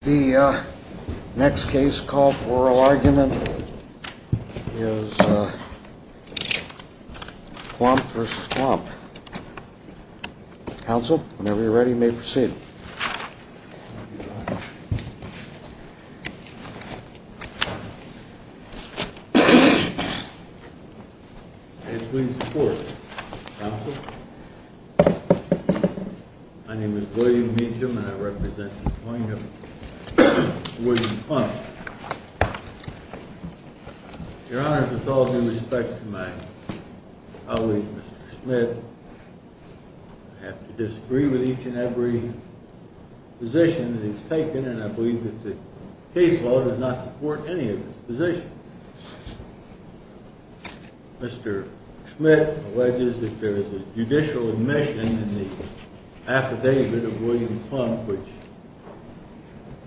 The next case, call for oral argument, is Klump v. Klump. Counsel, whenever you're ready, you may proceed. May it please the Court, Counsel? My name is William Meacham, and I represent the appointment of William Klump. Your Honor, with all due respect to my colleague, Mr. Smith, I have to disagree with each and every position that he's taken, and I believe that the case law does not support any of his positions. Mr. Smith alleges that there is a judicial admission in the affidavit of William Klump which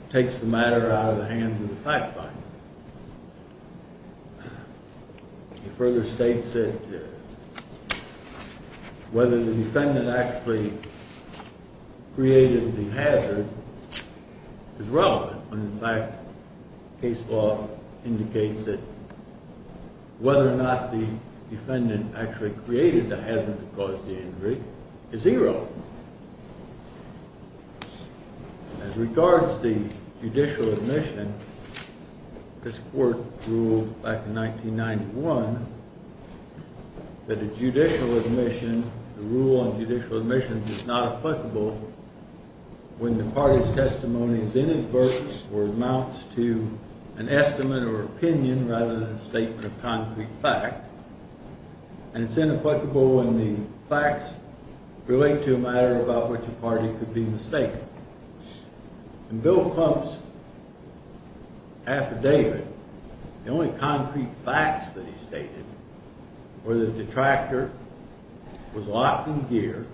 takes the matter out of the hands of the fact finder. He further states that whether the defendant actually created the hazard is relevant, when in fact case law indicates that whether or not the defendant actually created the hazard to cause the injury is zero. As regards the judicial admission, this Court ruled back in 1991 that the judicial admission, the rule on judicial admission is not applicable when the party's testimony is inadvertent or amounts to an estimate or opinion rather than a statement of concrete fact. And it's inapplicable when the facts relate to a matter about which a party could be mistaken. In Bill Klump's affidavit, the only concrete facts that he stated were the detractor was locked in gear,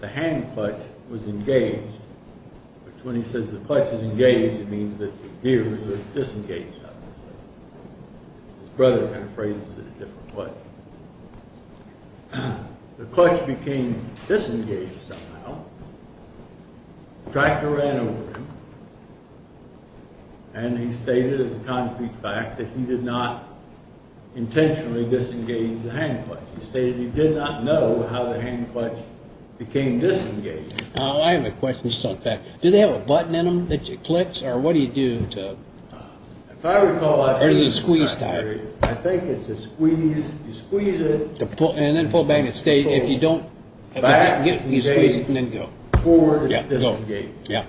the hand clutch was engaged. When he says the clutch is engaged, it means that the gears were disengaged. His brother kind of phrases it a different way. The clutch became disengaged somehow. The detractor ran over him, and he stated as a concrete fact that he did not intentionally disengage the hand clutch. He stated he did not know how the hand clutch became disengaged. I have a question. Do they have a button in them that you click, or what do you do? If I recall, I think it's a squeeze. You squeeze it. And then pull back and stay. If you don't get it, you squeeze it and then go. Forward and disengage. Yeah.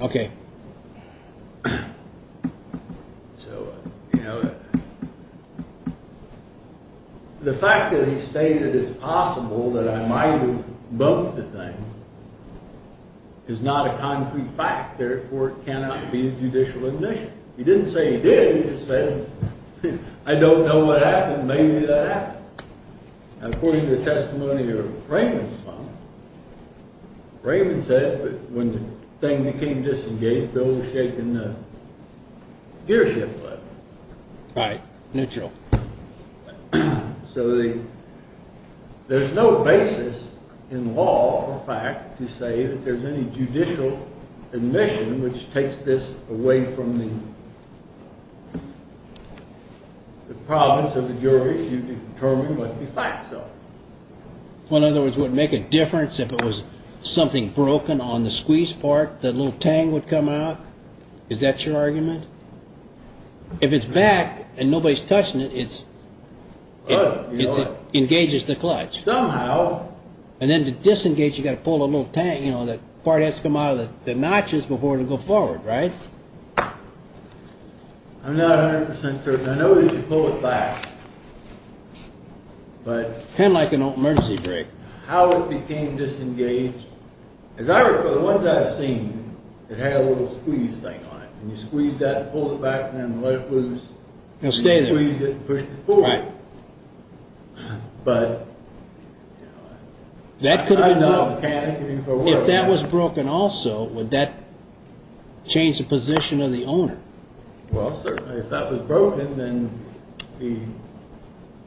Okay. So, you know, the fact that he stated it's possible that I might have both the things is not a concrete fact. Therefore, it cannot be a judicial admission. He didn't say he did. He just said, I don't know what happened. Maybe that happened. According to the testimony of Raymond's son, Raymond said that when the thing became disengaged, Bill was shaking the gearshift lever. Right. Neutral. So there's no basis in law or fact to say that there's any judicial admission which takes this away from the province of the jury if you determine what the facts are. In other words, would it make a difference if it was something broken on the squeeze part, that little tang would come out? Is that your argument? If it's back and nobody's touching it, it engages the clutch. Somehow. And then to disengage, you've got to pull a little tang, you know, that part has to come out of the notches before it'll go forward, right? I'm not 100% certain. I know that you pull it back. Kind of like an emergency brake. How it became disengaged, as I recall, the ones I've seen, it had a little squeeze thing on it. And you squeezed that, pulled it back, and then let it loose. It'll stay there. And you squeezed it and pushed it forward. Right. But, you know, I'm not a mechanic anymore. If that was broken also, would that change the position of the owner? Well, certainly. If that was broken, then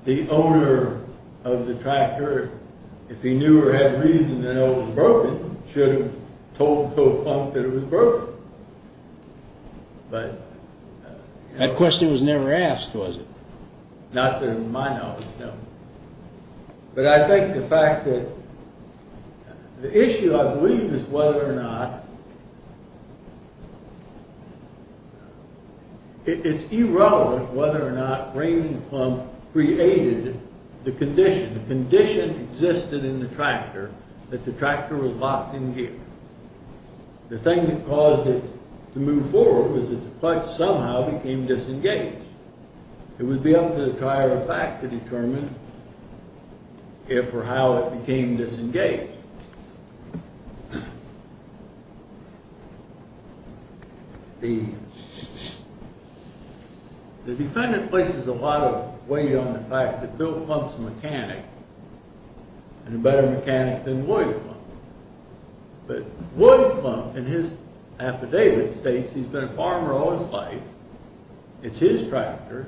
the owner of the tractor, if he knew or had reason to know it was broken, should have told Toad Clunk that it was broken. But... That question was never asked, was it? Not to my knowledge, no. But I think the fact that... The issue, I believe, is whether or not... It's irrelevant whether or not Raymond Clunk created the condition. The condition existed in the tractor that the tractor was locked in gear. The thing that caused it to move forward was that the clutch somehow became disengaged. It would be up to the tire effect to determine if or how it became disengaged. The... The defendant places a lot of weight on the fact that Bill Clunk's a mechanic, and a better mechanic than Lloyd Clunk. But Lloyd Clunk, in his affidavit, states he's been a farmer all his life. It's his tractor.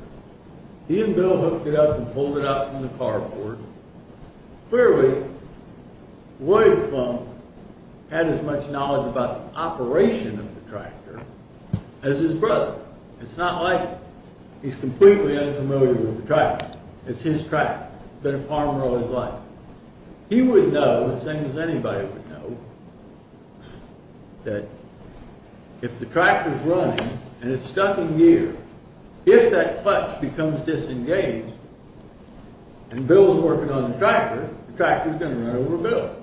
He and Bill hooked it up and pulled it out from the carport. Clearly, Lloyd Clunk had as much knowledge about the operation of the tractor as his brother. It's not like he's completely unfamiliar with the tractor. It's his tractor. He's been a farmer all his life. He would know, the same as anybody would know, that if the tractor's running, and it's stuck in gear, if that clutch becomes disengaged, and Bill's working on the tractor, the tractor's going to run over Bill.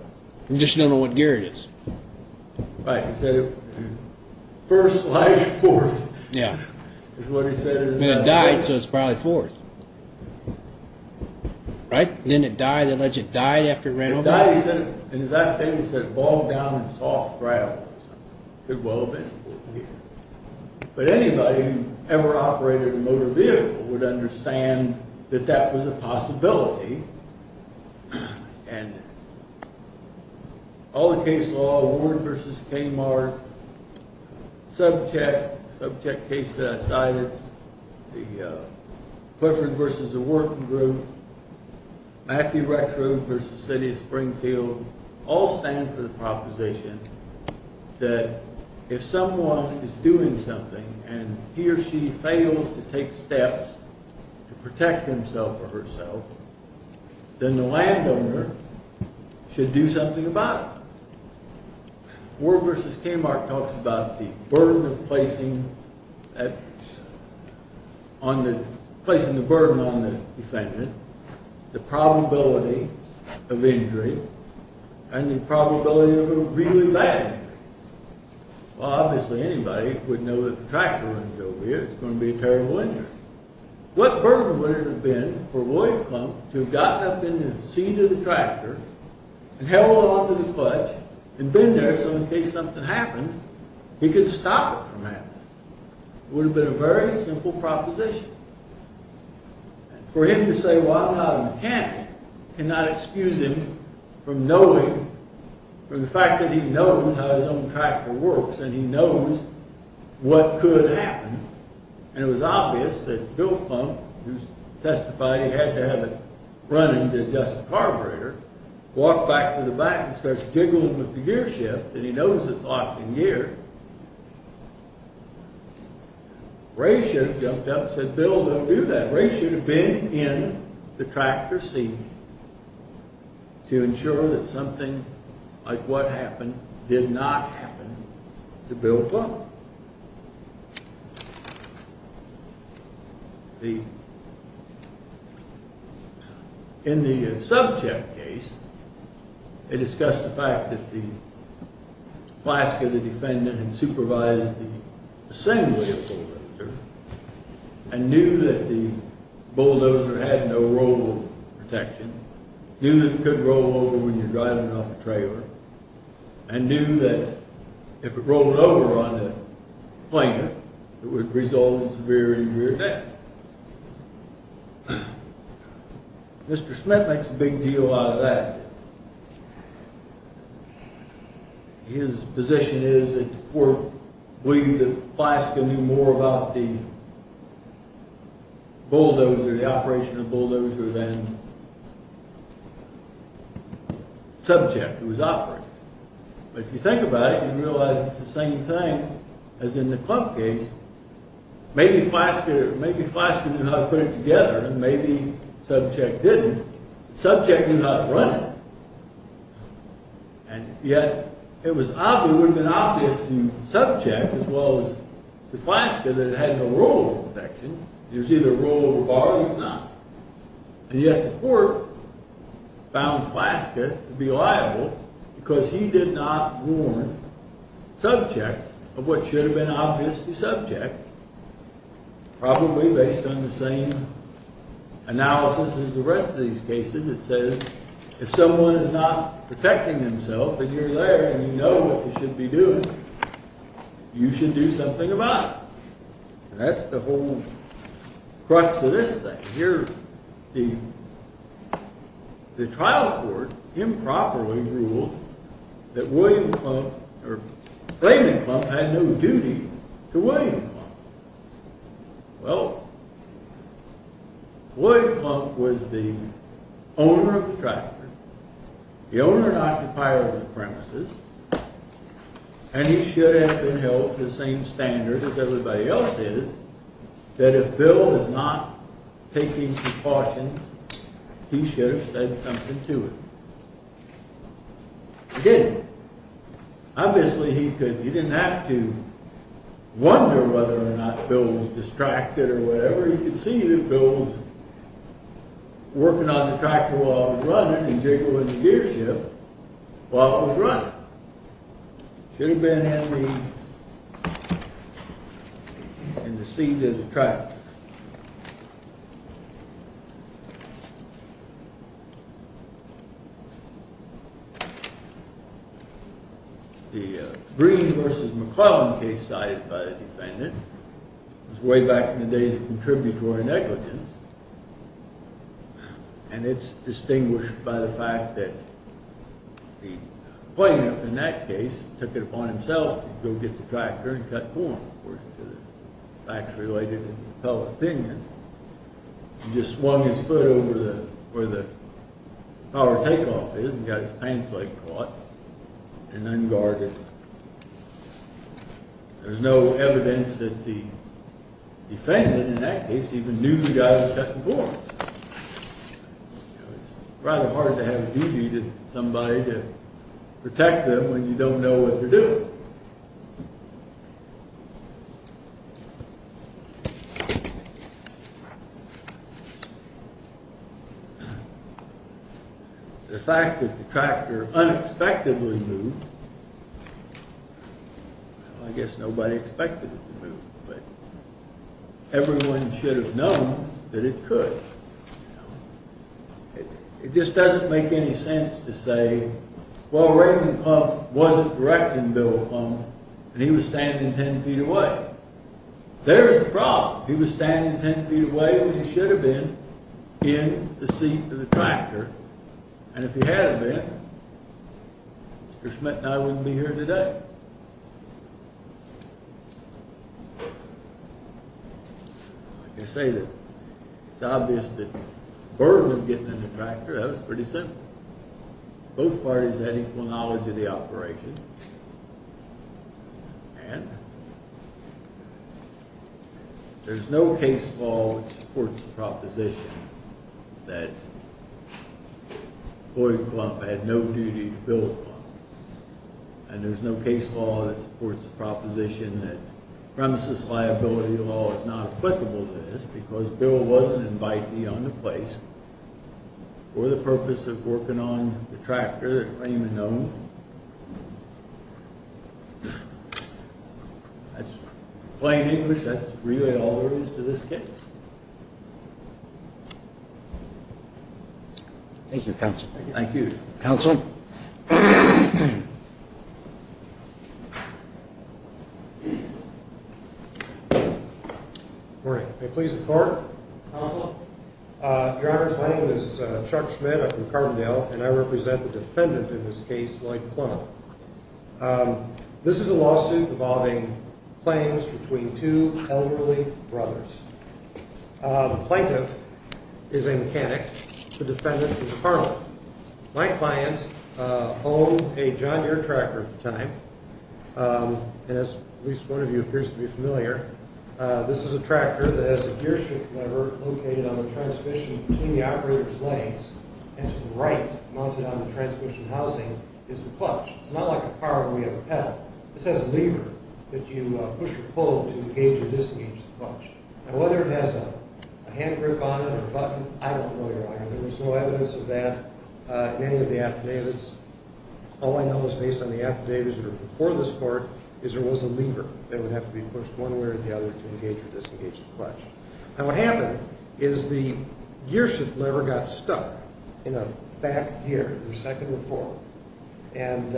You just don't know what gear it is. Right. He said it... First, last, fourth. Yeah. That's what he said. It died, so it's probably fourth. Right? Didn't it die? The legend died after it ran over Bill? It died. In his affidavit, it says, balled down in soft gravels. Could well have been fourth gear. But anybody who ever operated a motor vehicle would understand that that was a possibility. And all the case law, Ward v. Kmart, subcheck, subcheck case that I cited, the Clifford v. The Working Group, Matthew Rexrude v. City of Springfield, all stand for the proposition that if someone is doing something, and he or she fails to take steps to protect himself or herself, then the landowner should do something about it. Ward v. Kmart talks about the burden of placing placing the burden on the defendant, the probability of injury, and the probability of a really bad injury. Well, obviously anybody would know that the tractor runs over here, it's going to be a terrible injury. What burden would it have been for William Clump to have gotten up in the seat of the tractor, and held on to the clutch, and been there so in case something happened, he could stop it from happening. It would have been a very simple proposition. For him to say, well, I'm not a mechanic, cannot excuse him from knowing, from the fact that he knows how his own tractor works, and he knows what could happen, and it was obvious that Bill Clump, who testified he had to have it running to adjust the carburetor, walked back to the back and started jiggling with the gear shift, and he knows it's locked in gear. Ray should have jumped up and said, Bill, don't do that. Ray should have been in the tractor seat to ensure that something like what happened did not happen to Bill Clump. In the subject case, they discussed the fact that the flask of the defendant had supervised the assembly of bulldozers, and knew that the bulldozer had no roll protection, knew that it could roll over when you're driving off a trailer, and knew that if it rolled over on the planer, it would result in severe injury or death. Mr. Smith makes a big deal out of that. His position is that the court believed that Flaska knew more about the bulldozer, the operation of the bulldozer, than Subcheck, who was operating it. But if you think about it, you realize it's the same thing as in the Clump case. Maybe Flaska knew how to put it together, and maybe Subcheck didn't. Subcheck knew how to run it, and yet it would have been obvious to Subcheck, as well as to Flaska, that it had no roll protection. There's either roll or bar, there's not. And yet the court found Flaska to be liable because he did not warn Subcheck of what should have been obvious to Subcheck, probably based on the same analysis as the rest of these cases. It says if someone is not protecting themselves, and you're there, and you know what you should be doing, you should do something about it. And that's the whole crux of this thing. Here, the trial court improperly ruled that William Clump, or claiming Clump, had no duty to William Clump. Well, William Clump was the owner of the tractor, the owner and occupier of the premises, and he should have been held to the same standard as everybody else is, that if Bill is not taking precautions, he should have said something to him. He didn't. Obviously, he didn't have to wonder whether or not Bill was distracted or whatever. You could see that Bill was working on the tractor while it was running, and jiggling the gear shift while it was running. Should have been in the seat of the tractor. The Breen v. McClellan case cited by the defendant was way back in the days of contributory negligence, and it's distinguished by the fact that the plaintiff, in that case, took it upon himself to go get the tractor and cut the floor, according to the facts related in the appellate opinion. He just swung his foot over where the power takeoff is and got his pants leg caught and unguarded. There's no evidence that the defendant, in that case, even knew the guy was cutting the floor. It's rather hard to have a duty to somebody to protect them when you don't know what they're doing. The fact that the tractor unexpectedly moved, I guess nobody expected it to move, but everyone should have known that it could. It just doesn't make any sense to say, well, Raymond Pumph wasn't directing Bill Pumph, and he was standing 10 feet away. There is a problem. He was standing 10 feet away when he should have been in the seat of the tractor, and if he had been, Mr. Schmidt and I wouldn't be here today. But I can say that it's obvious that the burden of getting in the tractor, that was pretty simple. Both parties had equal knowledge of the operation, and there's no case law that supports the proposition that Floyd Pumph had no duty to Bill Pumph, and there's no case law that supports the proposition that premises liability law is not applicable to this because Bill wasn't an invitee on the place for the purpose of working on the tractor that Raymond owned. That's plain English. That's really all there is to this case. Thank you, counsel. Thank you. Counsel. Good morning. May it please the court. Counsel. Your Honors, my name is Chuck Schmidt. I'm from Carbondale, and I represent the defendant in this case, Lloyd Plano. This is a lawsuit involving claims between two elderly brothers. The plaintiff is a mechanic. The defendant is a carpenter. My client owned a John Deere tractor at the time, and as at least one of you appears to be familiar, this is a tractor that has a gearshift lever located on the transmission between the operator's legs, and to the right, mounted on the transmission housing, is a clutch. It's not like a car where we have a pedal. This has a lever that you push or pull to engage or disengage the clutch, and whether it has a hand grip on it or a button, I don't know, Your Honor. There was no evidence of that in any of the affidavits. All I know is based on the affidavits that are before this court is there was a lever that would have to be pushed one way or the other to engage or disengage the clutch. Now, what happened is the gearshift lever got stuck in a back gear the second or fourth, and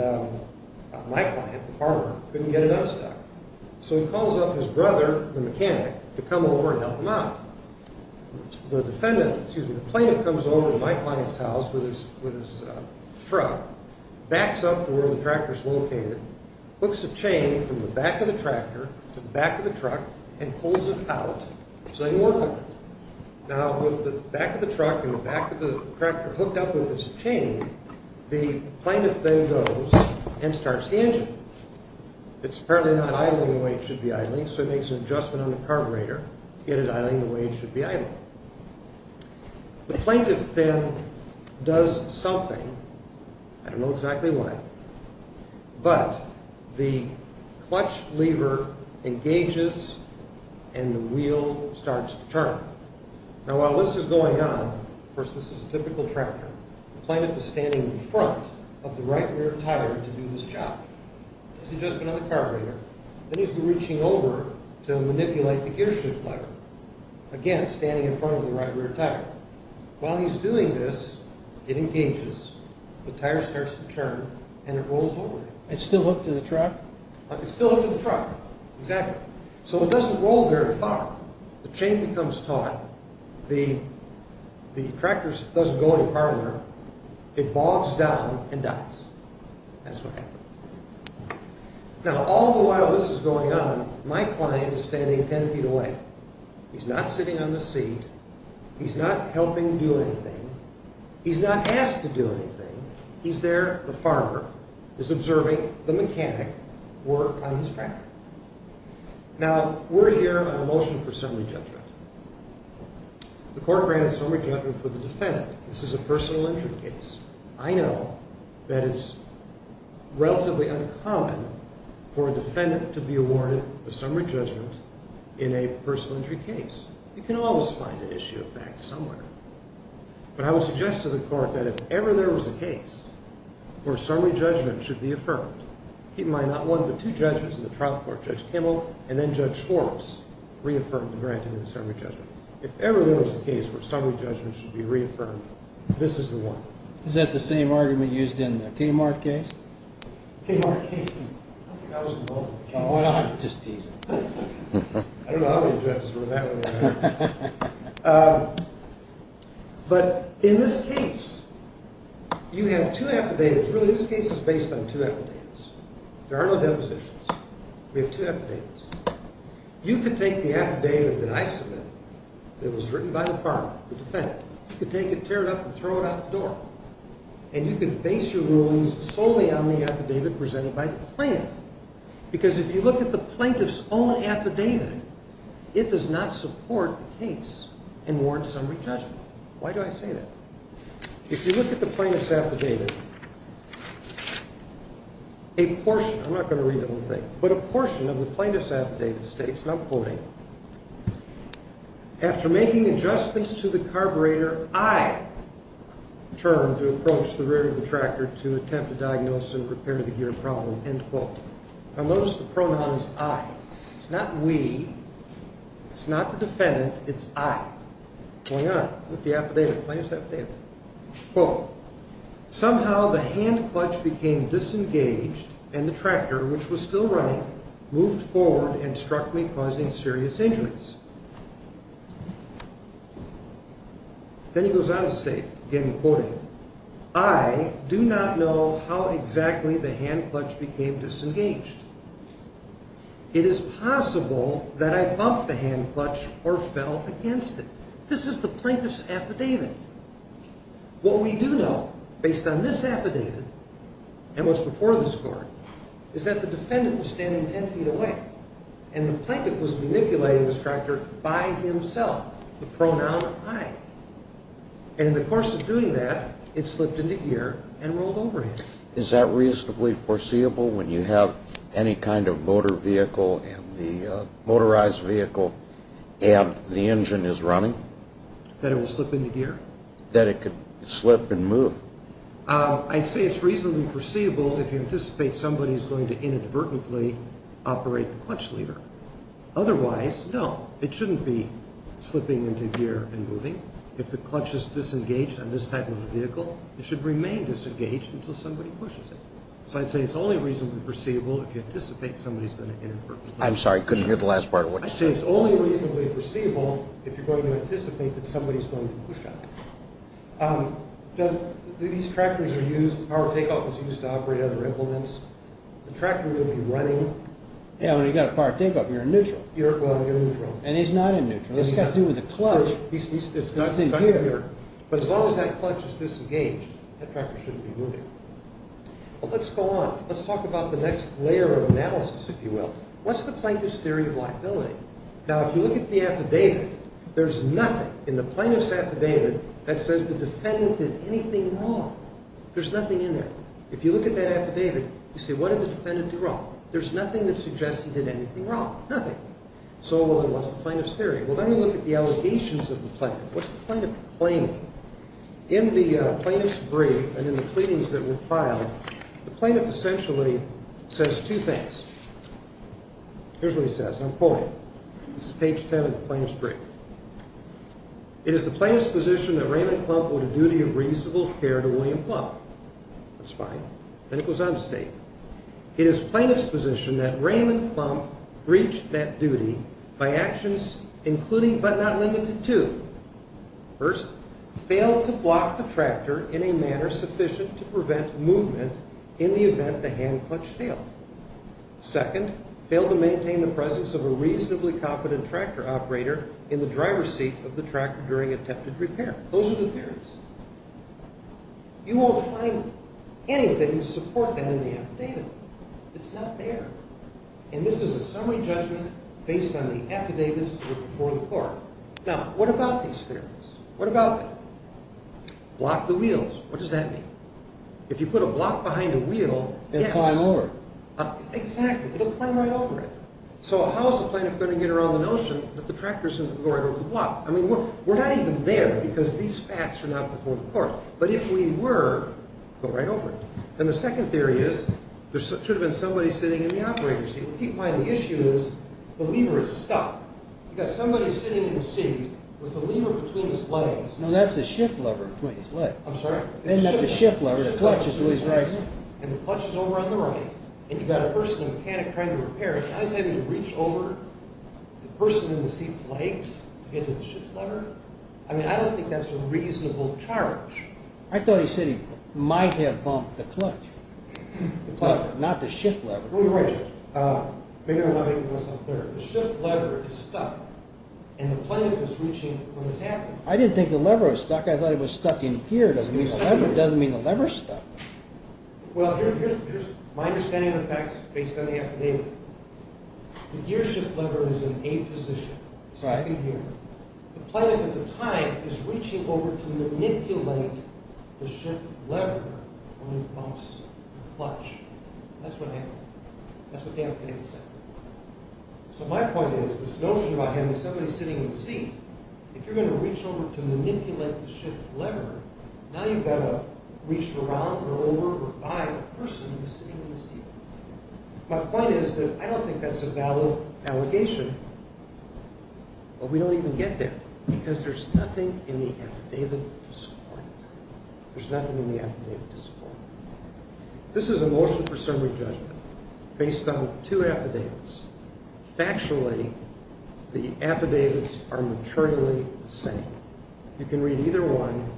my client, the farmer, couldn't get it unstuck. So he calls up his brother, the mechanic, to come over and help him out. The defendant, excuse me, the plaintiff, comes over to my client's house with his truck, backs up to where the tractor's located, hooks a chain from the back of the tractor to the back of the truck, and pulls it out so they can work on it. Now, with the back of the truck and the back of the tractor hooked up with this chain, the plaintiff then goes and starts the engine. It's apparently not idling the way it should be idling, so he makes an adjustment on the carburetor to get it idling the way it should be idling. The plaintiff then does something. I don't know exactly why, but the clutch lever engages and the wheel starts to turn. Now, while this is going on, of course, this is a typical tractor, the plaintiff is standing in front of the right rear tire to do this job. He's adjusting on the carburetor, and he's reaching over to manipulate the gear shift lever, again, standing in front of the right rear tire. While he's doing this, it engages, the tire starts to turn, and it rolls over. It's still hooked to the truck? It's still hooked to the truck, exactly. So it doesn't roll very far. The chain becomes taut, the tractor doesn't go any farther, it bogs down and dies. That's what happens. Now, all the while this is going on, my client is standing 10 feet away. He's not sitting on the seat. He's not helping do anything. He's not asked to do anything. He's there, the farmer, is observing the mechanic work on his tractor. Now, we're here on a motion for summary judgment. The court granted summary judgment for the defendant. This is a personal injury case. I know that it's relatively uncommon for a defendant to be awarded a summary judgment in a personal injury case. You can always find an issue of fact somewhere. But I would suggest to the court that if ever there was a case where summary judgment should be affirmed, keep in mind not one but two judgments in the trial court, Judge Kimmel and then Judge Horace, reaffirmed and granted the summary judgment. If ever there was a case where summary judgment should be reaffirmed, this is the one. Is that the same argument used in the Kmart case? Kmart case? I think I was involved in the Kmart case. Why don't I just tease him? I don't know how many judges were in that one. But in this case, you have two affidavits. Really, this case is based on two affidavits. There are no depositions. We have two affidavits. You can take the affidavit that I submitted that was written by the farmer, the defendant. You can take it, tear it up, and throw it out the door. And you can base your rulings solely on the affidavit presented by the plaintiff. Because if you look at the plaintiff's own affidavit, it does not support the case in warrant summary judgment. Why do I say that? If you look at the plaintiff's affidavit, a portion, I'm not going to read the whole thing, but a portion of the plaintiff's affidavit states, and I'm quoting, After making adjustments to the carburetor, I turned to approach the rear of the tractor to attempt a diagnosis and prepare the gear problem. End quote. Now, notice the pronoun is I. It's not we. It's not the defendant. It's I. Going on with the affidavit, plaintiff's affidavit. Quote, Then he goes on to state, again quoting, This is the plaintiff's affidavit. What we do know, based on this affidavit, and what's before this court, is that the defendant was standing 10 feet away, and the plaintiff was manipulating the tractor by himself. The pronoun I. And in the course of doing that, it slipped into gear and rolled over him. Is that reasonably foreseeable when you have any kind of motorized vehicle and the engine is running? That it will slip into gear? That it could slip and move? I'd say it's reasonably foreseeable if you anticipate somebody's going to inadvertently operate the clutch lever. Otherwise, no, it shouldn't be slipping into gear and moving. If the clutch is disengaged on this type of a vehicle, it should remain disengaged until somebody pushes it. So I'd say it's only reasonably foreseeable if you anticipate somebody's going to inadvertently push it. I'm sorry, I couldn't hear the last part of what you said. I'd say it's only reasonably foreseeable if you're going to anticipate that somebody's going to push on it. These tractors are used, the power takeoff is used to operate other implements. The tractor will be running. Yeah, when you've got a power takeoff, you're in neutral. Well, you're in neutral. And he's not in neutral. It's got to do with the clutch. It's not in gear. But as long as that clutch is disengaged, that tractor shouldn't be moving. Well, let's go on. Let's talk about the next layer of analysis, if you will. What's the plaintiff's theory of liability? Now, if you look at the affidavit, there's nothing in the plaintiff's affidavit that says the defendant did anything wrong. There's nothing in there. If you look at that affidavit, you say, what did the defendant do wrong? There's nothing that suggests he did anything wrong. Nothing. So what's the plaintiff's theory? Well, then we look at the allegations of the plaintiff. What's the plaintiff claiming? In the plaintiff's brief and in the pleadings that were filed, the plaintiff essentially says two things. Here's what he says. I'm quoting. This is page 10 of the plaintiff's brief. It is the plaintiff's position that Raymond Klump owed a duty of reasonable care to William Klump. That's fine. Then it goes on to state, it is plaintiff's position that Raymond Klump breached that duty by actions including but not limited to, first, failed to block the tractor in a manner sufficient to prevent movement in the event the hand clutch failed. Second, failed to maintain the presence of a reasonably competent tractor operator in the driver's seat of the tractor during attempted repair. Those are the theories. You won't find anything to support that in the affidavit. It's not there. And this is a summary judgment based on the affidavits that were before the court. Now, what about these theories? What about block the wheels? What does that mean? If you put a block behind a wheel, yes. It will climb over. Exactly. It will climb right over it. So how is the plaintiff going to get around the notion that the tractor is going to go right over the block? I mean, we're not even there because these facts are not before the court. But if we were, it would go right over it. And the second theory is there should have been somebody sitting in the operator's seat. Keep in mind the issue is the lever is stuck. You've got somebody sitting in the seat with the lever between his legs. No, that's the shift lever between his legs. I'm sorry? Isn't that the shift lever? The clutch is always right. And the clutch is over on the right. And you've got a person, a mechanic, trying to repair it. Now he's having to reach over the person in the seat's legs to get to the shift lever. I mean, I don't think that's a reasonable charge. I thought he said he might have bumped the clutch. Not the shift lever. Oh, you're right. Maybe I'm not making myself clear. The shift lever is stuck. And the plaintiff is reaching when it's happening. I didn't think the lever was stuck. I thought it was stuck in gear. It doesn't mean the lever is stuck. Well, here's my understanding of the facts based on the affidavit. The gear shift lever is in A position. It's stuck in gear. The plaintiff at the time is reaching over to manipulate the shift lever when he bumps the clutch. That's what happened. That's what the affidavit said. So my point is, this notion about having somebody sitting in the seat, if you're going to reach over to manipulate the shift lever, now you've got to reach around or over or by a person who's sitting in the seat. My point is that I don't think that's a valid allegation. But we don't even get there because there's nothing in the affidavit to support it. There's nothing in the affidavit to support it. This is a motion for summary judgment based on two affidavits. Factually, the affidavits are maternally the same. You can read either one.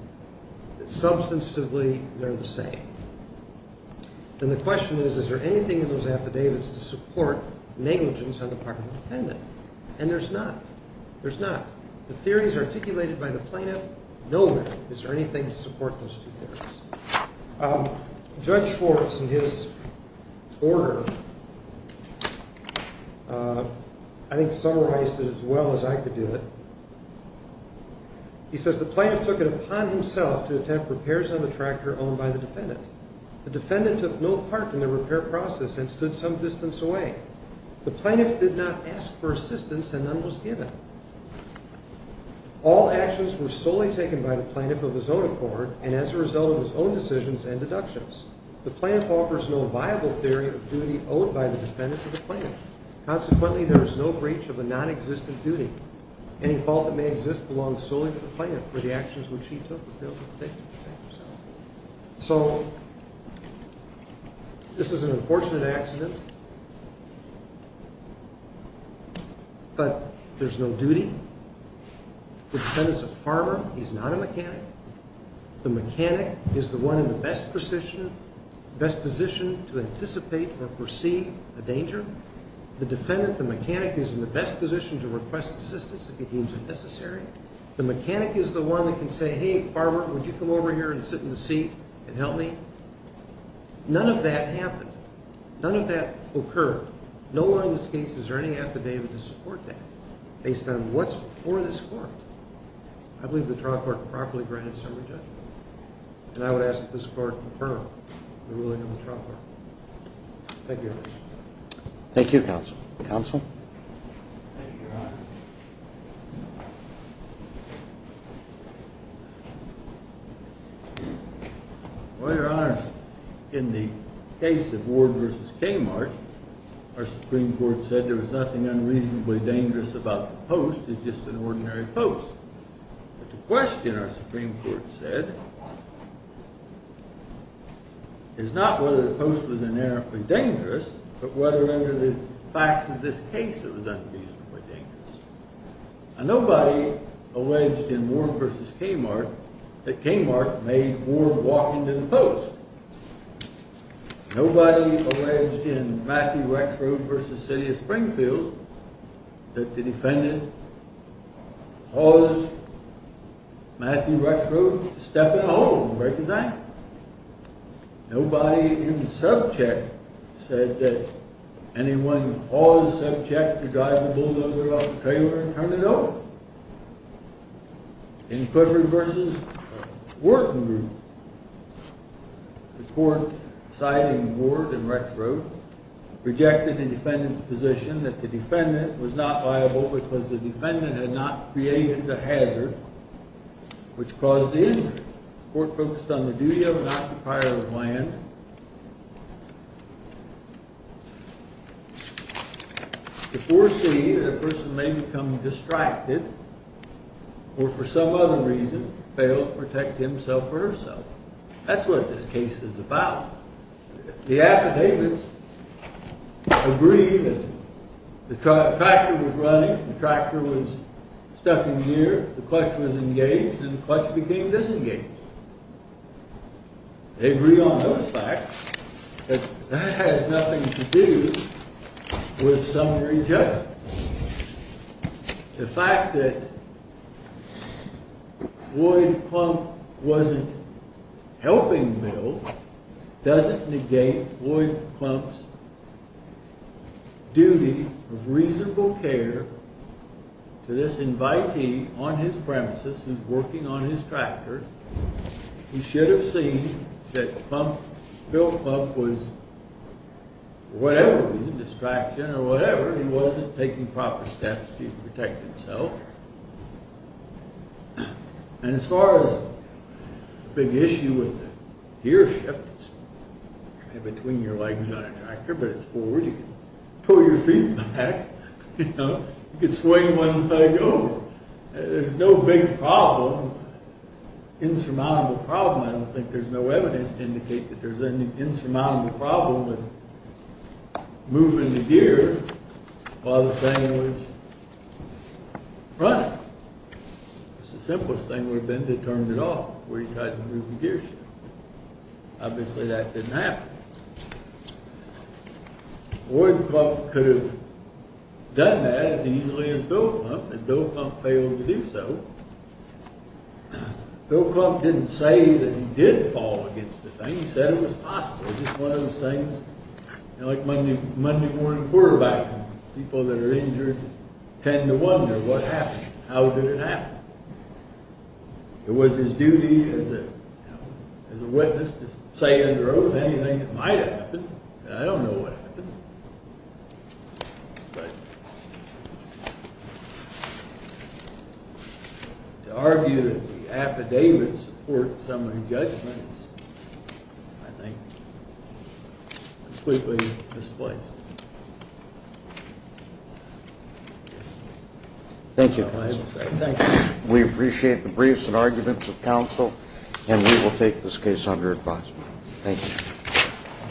Substantively, they're the same. And the question is, is there anything in those affidavits to support negligence on the part of the defendant? And there's not. There's not. The theories articulated by the plaintiff know that. Is there anything to support those two theories? Judge Schwartz, in his order, I think summarized it as well as I could do it. He says, The plaintiff took it upon himself to attempt repairs on the tractor owned by the defendant. The defendant took no part in the repair process and stood some distance away. The plaintiff did not ask for assistance, and none was given. All actions were solely taken by the plaintiff of his own accord and as a result of his own decisions and deductions. The plaintiff offers no viable theory of duty owed by the defendant to the plaintiff. Consequently, there is no breach of a nonexistent duty. Any fault that may exist belongs solely to the plaintiff for the actions which he took to fail to protect himself. So this is an unfortunate accident, but there's no duty. The defendant's a farmer. He's not a mechanic. The mechanic is the one in the best position to anticipate or foresee a danger. The defendant, the mechanic, is in the best position to request assistance if he deems it necessary. The mechanic is the one that can say, Hey, farmer, would you come over here and sit in the seat and help me? None of that happened. None of that occurred. No one in this case is earning affidavit to support that based on what's before this court. I believe the trial court properly granted server judgment, and I would ask that this court confirm the ruling of the trial court. Thank you. Thank you, counsel. Counsel? Thank you, Your Honor. Well, Your Honor, in the case of Ward v. Kmart, our Supreme Court said there was nothing unreasonably dangerous about the post. It's just an ordinary post. But the question our Supreme Court said is not whether the post was inerrantly dangerous, but whether under the facts of this case it was unreasonably dangerous. And nobody alleged in Ward v. Kmart that Kmart made Ward walk into the post. Nobody alleged in Matthew Rexrude v. City of Springfield that the defendant caused Matthew Rexrude to step in a hole and break his ankle. Nobody in subject said that anyone in all the subject could drive the bulldozer off the trailer and turn it over. In Clifford v. Wharton, the court, citing Ward and Rexrude, rejected the defendant's position that the defendant was not liable because the defendant had not created the hazard which caused the injury. The court focused on the duty of an occupier of land to foresee that a person may become distracted or for some other reason fail to protect himself or herself. That's what this case is about. The affidavits agree that the tractor was running, the tractor was stuck in gear, the clutch was engaged, and the clutch became disengaged. They agree on those facts, but that has nothing to do with summary judgment. The fact that Floyd Clump wasn't helping Bill doesn't negate Floyd Clump's duty of reasonable care to this invitee on his premises who's working on his tractor. He should have seen that Bill Clump was, for whatever reason, distracted or whatever, he wasn't taking proper steps to protect himself. And as far as the big issue with the gear shift, it's between your legs on a tractor, but it's forward, you can pull your feet back, you can swing one leg over. There's no big problem, insurmountable problem, I don't think there's no evidence to indicate that there's an insurmountable problem with moving the gear while the thing was running. It's the simplest thing would have been to turn it off before you tried to move the gear shift. Obviously that didn't happen. Floyd Clump could have done that as easily as Bill Clump, and Bill Clump failed to do so. Bill Clump didn't say that he did fall against the thing, he said it was possible, just one of those things, like Monday morning quarterback, people that are injured tend to wonder what happened, how did it happen? It was his duty as a witness to say under oath anything that might have happened, and I don't know what happened. But to argue that the affidavits support some of the judgments, I think completely misplaced. Thank you, counsel. We appreciate the briefs and arguments of counsel, and we will take this case under advisement. Thank you.